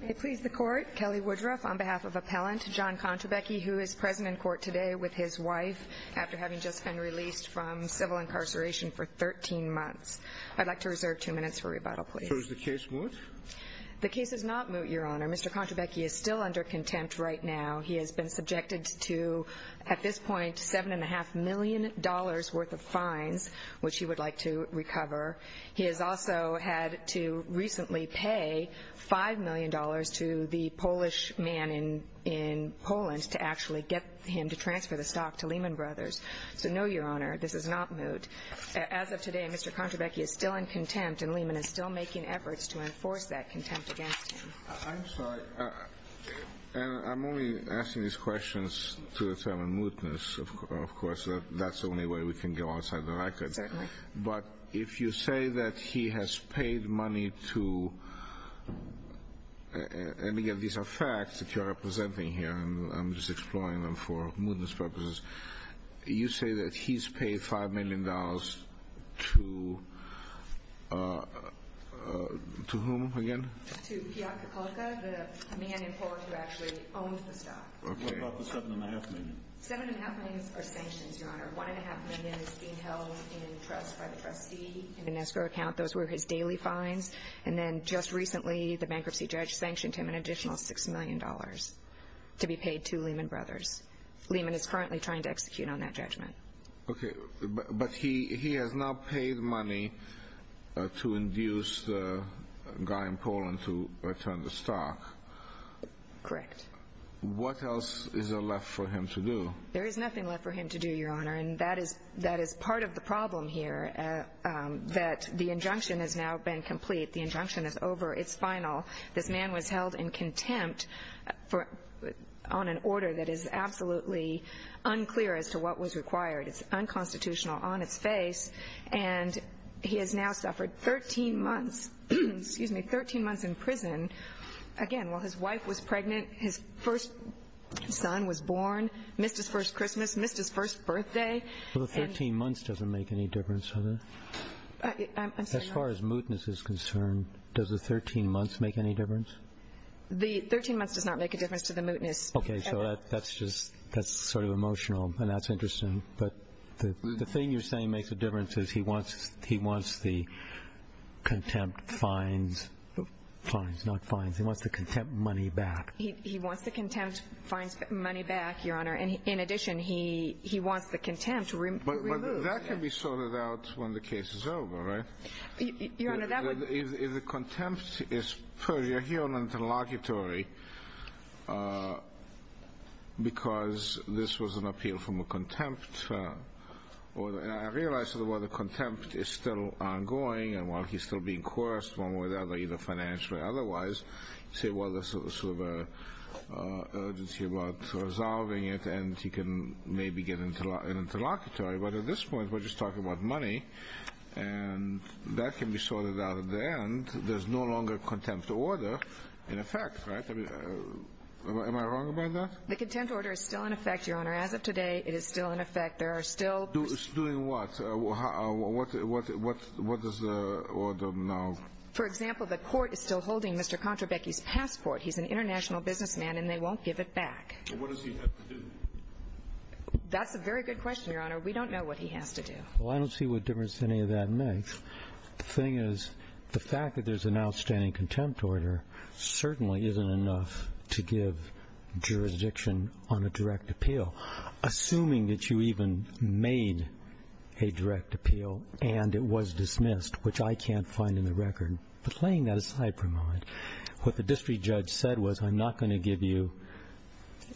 May it please the Court, Kelly Woodruff on behalf of Appellant John Kontrabecki who is present in court today with his wife after having just been released from civil incarceration for 13 months. I'd like to reserve two minutes for rebuttal please. So is the case moot? The case is not moot, Your Honor. Mr. Kontrabecki is still under contempt right now. He has been subjected to, at this point, $7.5 million dollars worth of fines, which he would like to recover. He has also had to recently pay $5 million dollars to the Polish man in Poland to actually get him to transfer the stock to Lehman Brothers. So no, Your Honor, this is not moot. As of today, Mr. Kontrabecki is still in contempt and Lehman is still making efforts to enforce that contempt against him. I'm sorry. I'm only asking these questions to determine mootness. Of course, that's the only way we can go outside the records. Certainly. But if you say that he has paid money to, and again, these are facts that you're representing here and I'm just exploring them for mootness purposes. You say that he's paid $5 million dollars to, to whom again? To Piotr Kokolka, the man in Poland who actually owns the stock. What about the $7.5 million? $7.5 million are sanctions, Your Honor. $1.5 million is being held in trust by the trustee in an escrow account. Those were his daily fines. And then just recently, the bankruptcy judge sanctioned him an additional $6 million dollars to be paid to Lehman Brothers. Lehman is currently trying to execute on that judgment. Okay, but he has now paid money to induce the guy in Poland to return the stock. Correct. What else is left for him to do? There is nothing left for him to do, Your Honor. And that is, that is part of the problem here, that the injunction has now been complete. The injunction is over. It's final. This man was held in contempt for, on an order that is absolutely unclear as to what was required. It's unconstitutional on its face. And he has now suffered 13 months, excuse me, 13 months in prison. Again, while his wife was pregnant, his first son was born, missed his first Christmas, missed his first birthday. Well, the 13 months doesn't make any difference, does it? I'm sorry, Your Honor. As far as mootness is concerned, does the 13 months make any difference? The 13 months does not make a difference to the mootness. Okay, so that's just, that's sort of emotional, and that's interesting. But the thing you're saying makes a difference is he wants the contempt fines, fines, not fines, he wants the contempt money back. He wants the contempt fines money back, Your Honor. In addition, he wants the contempt removed. But that can be sorted out when the case is over, right? Your Honor, that would... If the contempt is purgatory or interlocutory, because this was an appeal from a contempt order. And I realize that while the contempt is still ongoing and while he's still being coerced, one way or the other, either financially or otherwise, you say, well, there's sort of an urgency about resolving it and he can maybe get an interlocutory. But at this point, we're just talking about money, and that can be sorted out at the end. There's no longer contempt order in effect, right? I mean, am I wrong about that? The contempt order is still in effect, Your Honor. As of today, it is still in effect. There are still... Doing what? What is the order now? For example, the court is still holding Mr. Kontrabecki's passport. He's an international businessman and they won't give it back. What does he have to do? That's a very good question, Your Honor. We don't know what he has to do. Well, I don't see what difference any of that makes. The thing is, the fact that there's an outstanding contempt order certainly isn't enough to give jurisdiction on a direct appeal. Assuming that you even made a direct appeal and it was dismissed, which I can't find in the record, but laying that aside for a moment, what the district judge said was, I'm not going to give you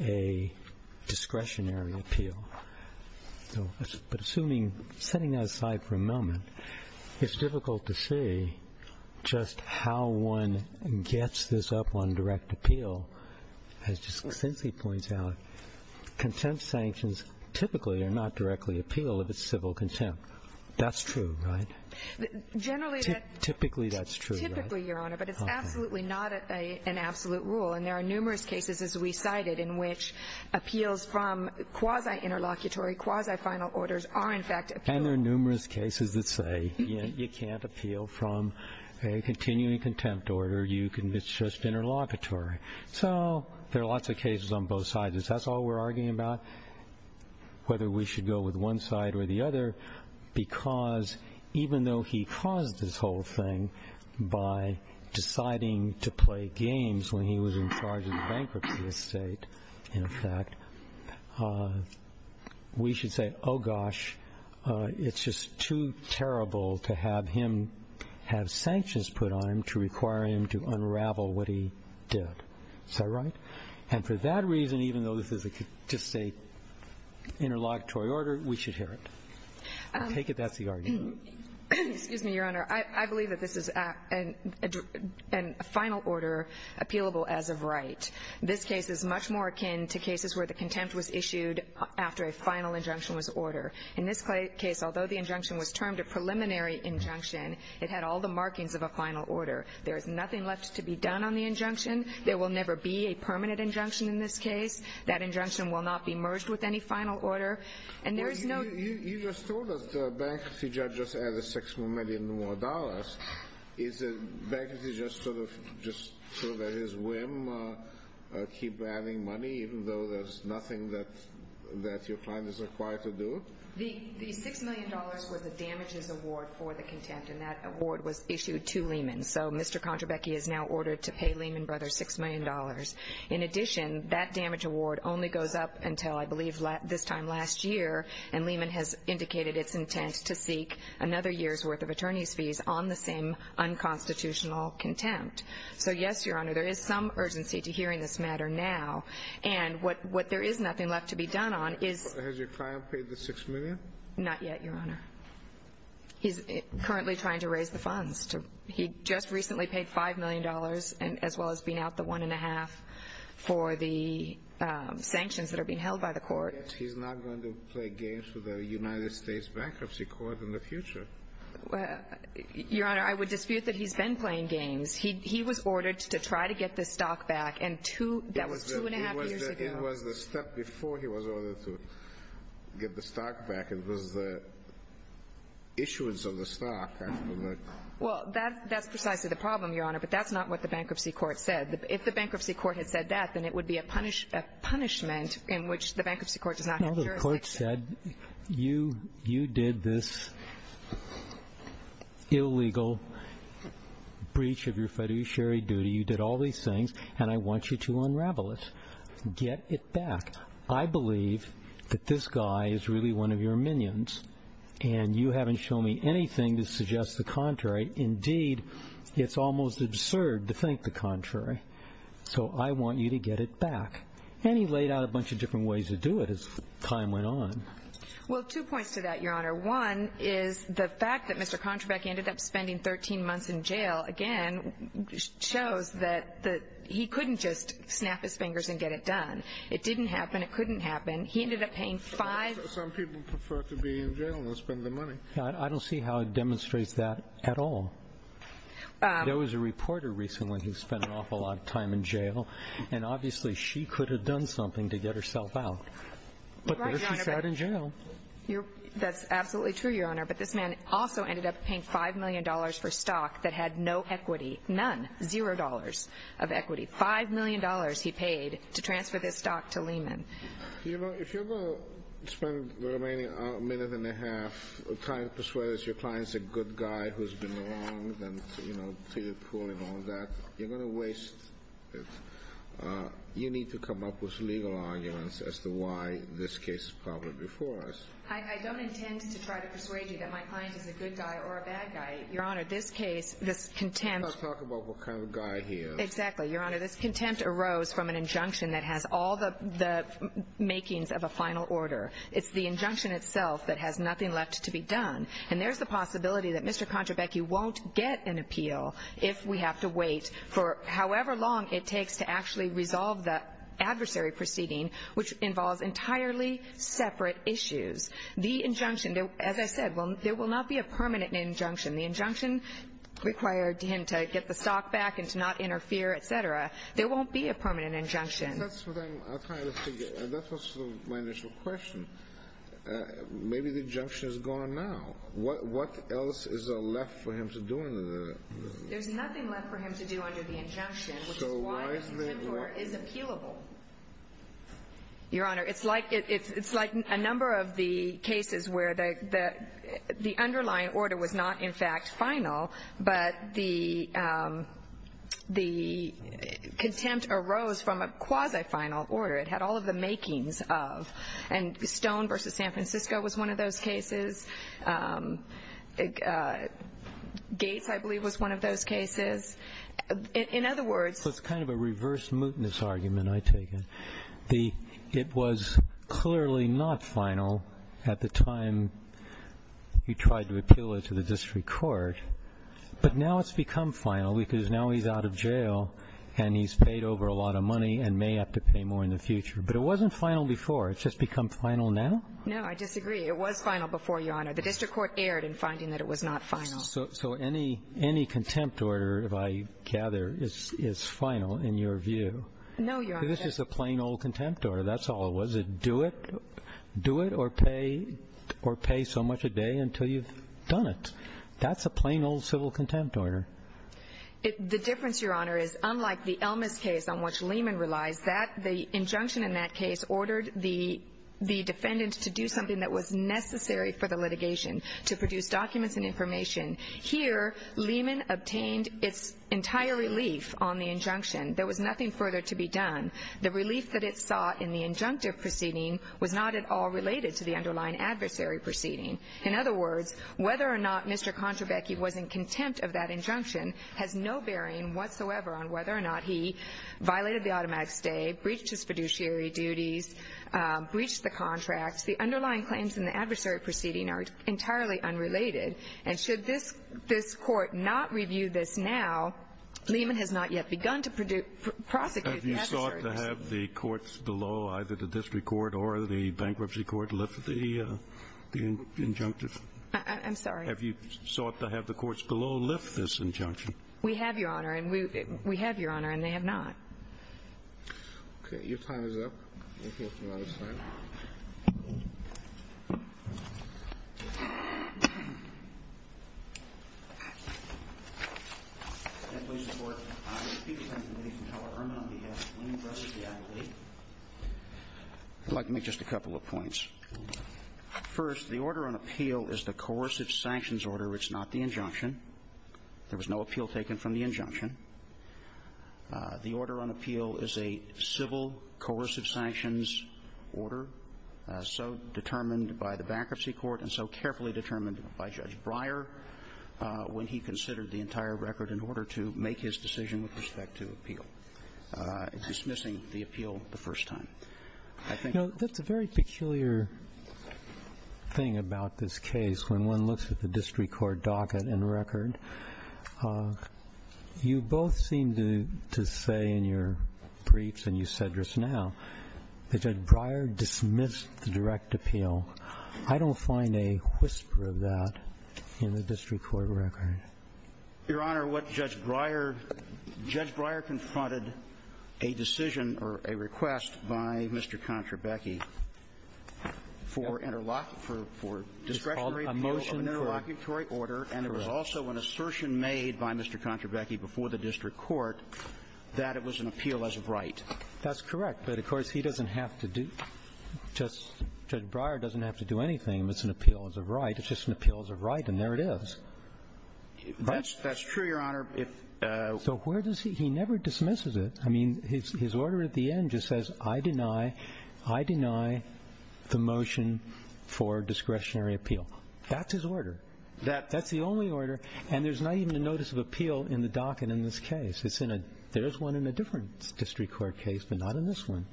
a discretionary appeal. But assuming, setting that aside for a moment, it's difficult to say just how one gets this up on direct appeal. As just simply points out, contempt sanctions typically are not directly appealed if it's civil contempt. That's true, right? Generally... Typically that's true, right? Typically, Your Honor, but it's absolutely not an absolute rule. And there are numerous cases, as we cited, in which appeals from quasi-interlocutory, quasi-final orders are in fact appealed. And there are numerous cases that say you can't appeal from a continuing contempt order. You can... It's just interlocutory. So there are lots of cases on both sides. That's all we're arguing about, whether we should go with one side or the other, because even though he caused this whole thing by deciding to play games when he was in charge of the bankruptcy estate, in fact, we should say, oh gosh, it's just too terrible to have sanctions put on him to require him to unravel what he did. Is that right? And for that reason, even though this is just a interlocutory order, we should hear it. I take it that's the argument. Excuse me, Your Honor. I believe that this is a final order appealable as of right. This case is much more akin to cases where the contempt was issued after a final injunction was ordered. In this case, although the injunction was termed a preliminary injunction, it had all the markings of a final order. There is nothing left to be done on the injunction. There will never be a permanent injunction in this case. That injunction will not be merged with any final order. And there is no... You just told us the bankruptcy judge just added six million more dollars. Is the bankruptcy judge just sort of at his whim, keep adding money, even though there's nothing that your client is required to do? The six million dollars was the damages award for the contempt, and that award was issued to Lehman. So Mr. Contrabecchi is now ordered to pay Lehman Brothers six million dollars. In addition, that damage award only goes up until, I believe, this time last year, and Lehman has indicated its intent to seek another year's worth of attorney's fees on the same unconstitutional contempt. So, yes, Your Honor, there is some urgency to hearing this matter now. And what there is nothing left to be done on is... Has your client paid the six million? Not yet, Your Honor. He's currently trying to raise the funds. He just recently paid five million dollars, as well as being out the one and a half for the sanctions that are being held by the court. He's not going to play games with the United States Bankruptcy Court in the future. Your Honor, I would dispute that he's been playing games. He was ordered to try to get the stock back, and that was two and a half years ago. It was the step before he was ordered to get the stock back. It was the issuance of the stock after the... Well, that's precisely the problem, Your Honor, but that's not what the Bankruptcy Court said. If the Bankruptcy Court had said that, then it would be a punishment in which the Bankruptcy Court does not have jurisdiction. No, the court said, you did this illegal breach of your fiduciary duty. You did all this. Get it back. I believe that this guy is really one of your minions, and you haven't shown me anything to suggest the contrary. Indeed, it's almost absurd to think the contrary. So I want you to get it back. And he laid out a bunch of different ways to do it as time went on. Well, two points to that, Your Honor. One is the fact that Mr. Kontrabek ended up 13 months in jail, again, shows that he couldn't just snap his fingers and get it done. It didn't happen. It couldn't happen. He ended up paying five... Some people prefer to be in jail and not spend their money. I don't see how it demonstrates that at all. There was a reporter recently who spent an awful lot of time in jail, and obviously she could have done something to get herself out. But there she sat in jail. That's absolutely true, Your Honor. But this man also ended up paying five million dollars for stock that had no equity. None. Zero dollars of equity. Five million dollars he paid to transfer this stock to Lehman. You know, if you're going to spend the remaining minute and a half trying to persuade us your client's a good guy who's been wronged and, you know, treated poorly and all that, you're going to waste it. You need to come up with legal arguments as to why this case is probably before us. I don't intend to try to persuade you that my client is a good guy or a bad guy. Your Honor, this case, this contempt... Let's talk about what kind of a guy he is. Exactly, Your Honor. This contempt arose from an injunction that has all the makings of a final order. It's the injunction itself that has nothing left to be done. And there's the possibility that Mr. Kontrabecki won't get an appeal if we have to wait for however long it takes to actually resolve the adversary proceeding, which involves entirely separate issues. The injunction, as I said, there will not be a permanent injunction. The injunction required him to get the stock back and to not interfere, et cetera. There won't be a permanent injunction. That's what I'm trying to figure. That was my initial question. Maybe the injunction is gone now. What else is left for him to do under the... There's nothing left for him to do under the injunction, which is why this contempt order is appealable. Your Honor, it's like it's like a number of the cases where the underlying order was not, in fact, final, but the contempt arose from a quasi-final order. It had all of the makings of. And Stone v. San Francisco was one of those cases. Gates, I believe, was one of those cases. In other words... So it's kind of a reverse mootness argument, I take it. It was clearly not final at the time you tried to appeal it to the district court. But now it's become final because now he's out of jail and he's paid over a lot of money and may have to pay more in the future. But it wasn't final before. It's just become final now. No, I disagree. It was final before, Your Honor. The district court erred in finding that it was not final. So any contempt order, if I gather, is final in your view? No, Your Honor. This is a plain old contempt order. That's all it was. It do it or pay so much a day until you've done it. That's a plain old civil contempt order. The difference, Your Honor, is unlike the Elmas case on which Lehman relies, the injunction in that case ordered the defendant to do something that was necessary for the litigation, to produce documents and information. Here, Lehman obtained its entire relief on the injunction. There was nothing further to be done. The relief that it sought in the injunctive proceeding was not at all related to the underlying adversary proceeding. In other words, whether or not Mr. Kontrabecki was in contempt of that injunction has no bearing whatsoever on whether or not he violated the automatic stay, breached his fiduciary duties, breached the contracts. The underlying claims in the adversary proceeding are entirely unrelated. And should this court not review this now, Lehman has not yet begun to prosecute the adversary. Have you sought to have the courts below, either the district court or the bankruptcy court, lift the injunctive? I'm sorry? Have you sought to have the courts below lift this injunction? We have, Your Honor. And we have, Your Honor. And they have not. Okay. Your time is up. I would like to make just a couple of points. First, the order on appeal is the coercive sanctions order. It's not the injunction. There was no appeal taken from the injunction. The order on appeal is a civil coercive sanctions order, so determined by the bankruptcy court and so carefully determined by Judge Breyer when he considered the entire record in order to make his decision with respect to appeal, dismissing the appeal the first time. I think that's a very peculiar thing about this case. When one looks at the district court docket and record, you both seem to say in your briefs and you said just now that Judge Breyer dismissed the direct appeal. I don't find a whisper of that in the district court record. Your Honor, what Judge Breyer – Judge Breyer confronted a decision or a request by Mr. Contrabecchi for interlock – for discretionary appeal of an interlocutory order, and there was also an assertion made by Mr. Contrabecchi before the district court that it was an appeal as of right. That's correct. But, of course, he doesn't have to do – Judge Breyer doesn't have to do anything if it's an appeal as of right. It's just an appeal as of right, and there it is. That's true, Your Honor. So where does he – he never dismisses it. I mean, his order at the end just says, I deny – I deny the motion for discretionary appeal. That's his order. That's the only order, and there's not even a notice of appeal in the docket in this case. It's in a – there's one in a different district court case, but not in this one.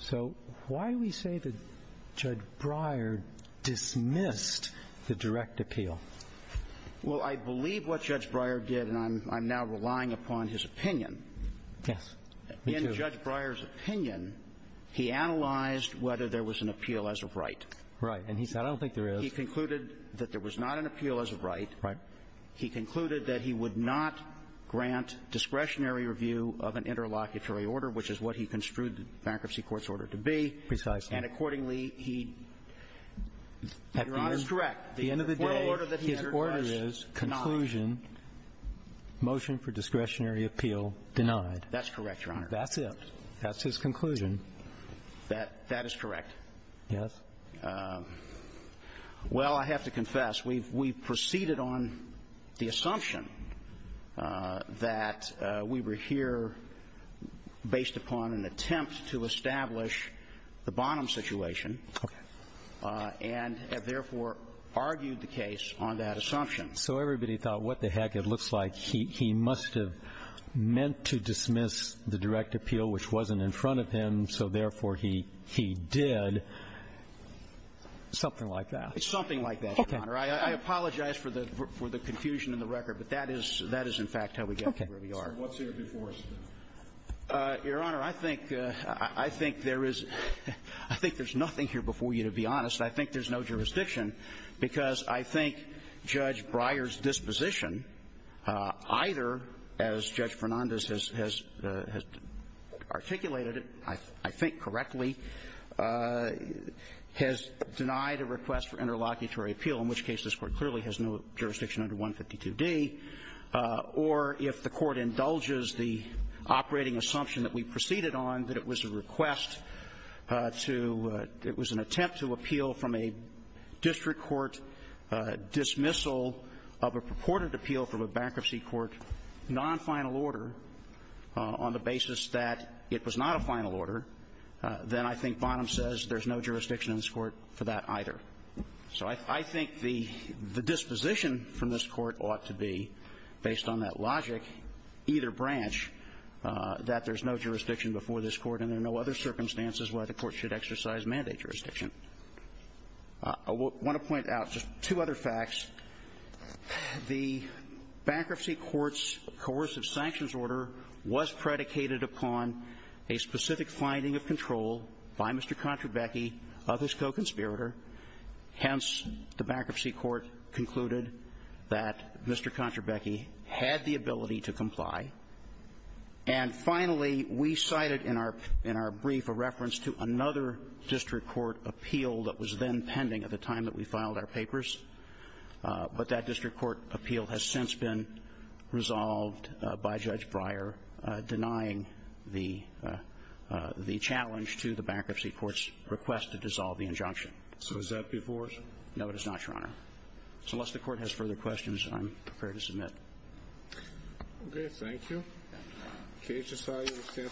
So why do we say that Judge Breyer dismissed the direct appeal? Well, I believe what Judge Breyer did, and I'm – I'm now relying upon his opinion. Yes. Me, too. In Judge Breyer's opinion, he analyzed whether there was an appeal as of right. Right. And he said, I don't think there is. He concluded that there was not an appeal as of right. Right. He concluded that he would not grant discretionary review of an interlocutory order, which is what he construed the bankruptcy court's order to be. Precisely. And accordingly, he – Your Honor, it's correct. At the end of the day, his order is conclusion, motion for discretionary appeal denied. That's correct, Your Honor. That's it. That's his conclusion. That – that is correct. Yes. Well, I have to confess, we've – we've proceeded on the assumption that we were here based upon an attempt to establish the Bonham situation and have, therefore, argued the case on that assumption. So everybody thought, what the heck, it looks like he – he must have meant to dismiss the direct appeal, which wasn't in front of him, so, therefore, he – he did, and something like that. It's something like that, Your Honor. Okay. I apologize for the – for the confusion in the record, but that is – that is, in fact, how we got to where we are. Okay. So what's here before us? Your Honor, I think – I think there is – I think there's nothing here before you, to be honest. I think there's no jurisdiction, because I think Judge Breyer's disposition, either, as Judge Fernandez has – has articulated it, I think correctly, has been denied a request for interlocutory appeal, in which case this Court clearly has no jurisdiction under 152D, or if the Court indulges the operating assumption that we proceeded on, that it was a request to – it was an attempt to appeal from a district court dismissal of a purported appeal from a bankruptcy court, non-final order, on the basis that it was not a final order, then I think Bonham says there's no jurisdiction in this Court for that either. So I think the disposition from this Court ought to be, based on that logic, either branch, that there's no jurisdiction before this Court and there are no other circumstances why the Court should exercise mandate jurisdiction. I want to point out just two other facts. The bankruptcy court's coercive sanctions order was predicated upon a specific finding of control by Mr. Kontrabecki, of his co-conspirator. Hence, the bankruptcy court concluded that Mr. Kontrabecki had the ability to comply. And finally, we cited in our – in our brief a reference to another district court appeal that was then pending at the time that we filed our papers, but that district court appeal has since been resolved by Judge Breyer denying the – the chance to challenge to the bankruptcy court's request to dissolve the injunction. So is that before us? No, it is not, Your Honor. So unless the Court has further questions, I'm prepared to submit. Okay. Thank you. Thank you. Thank you. Thank you.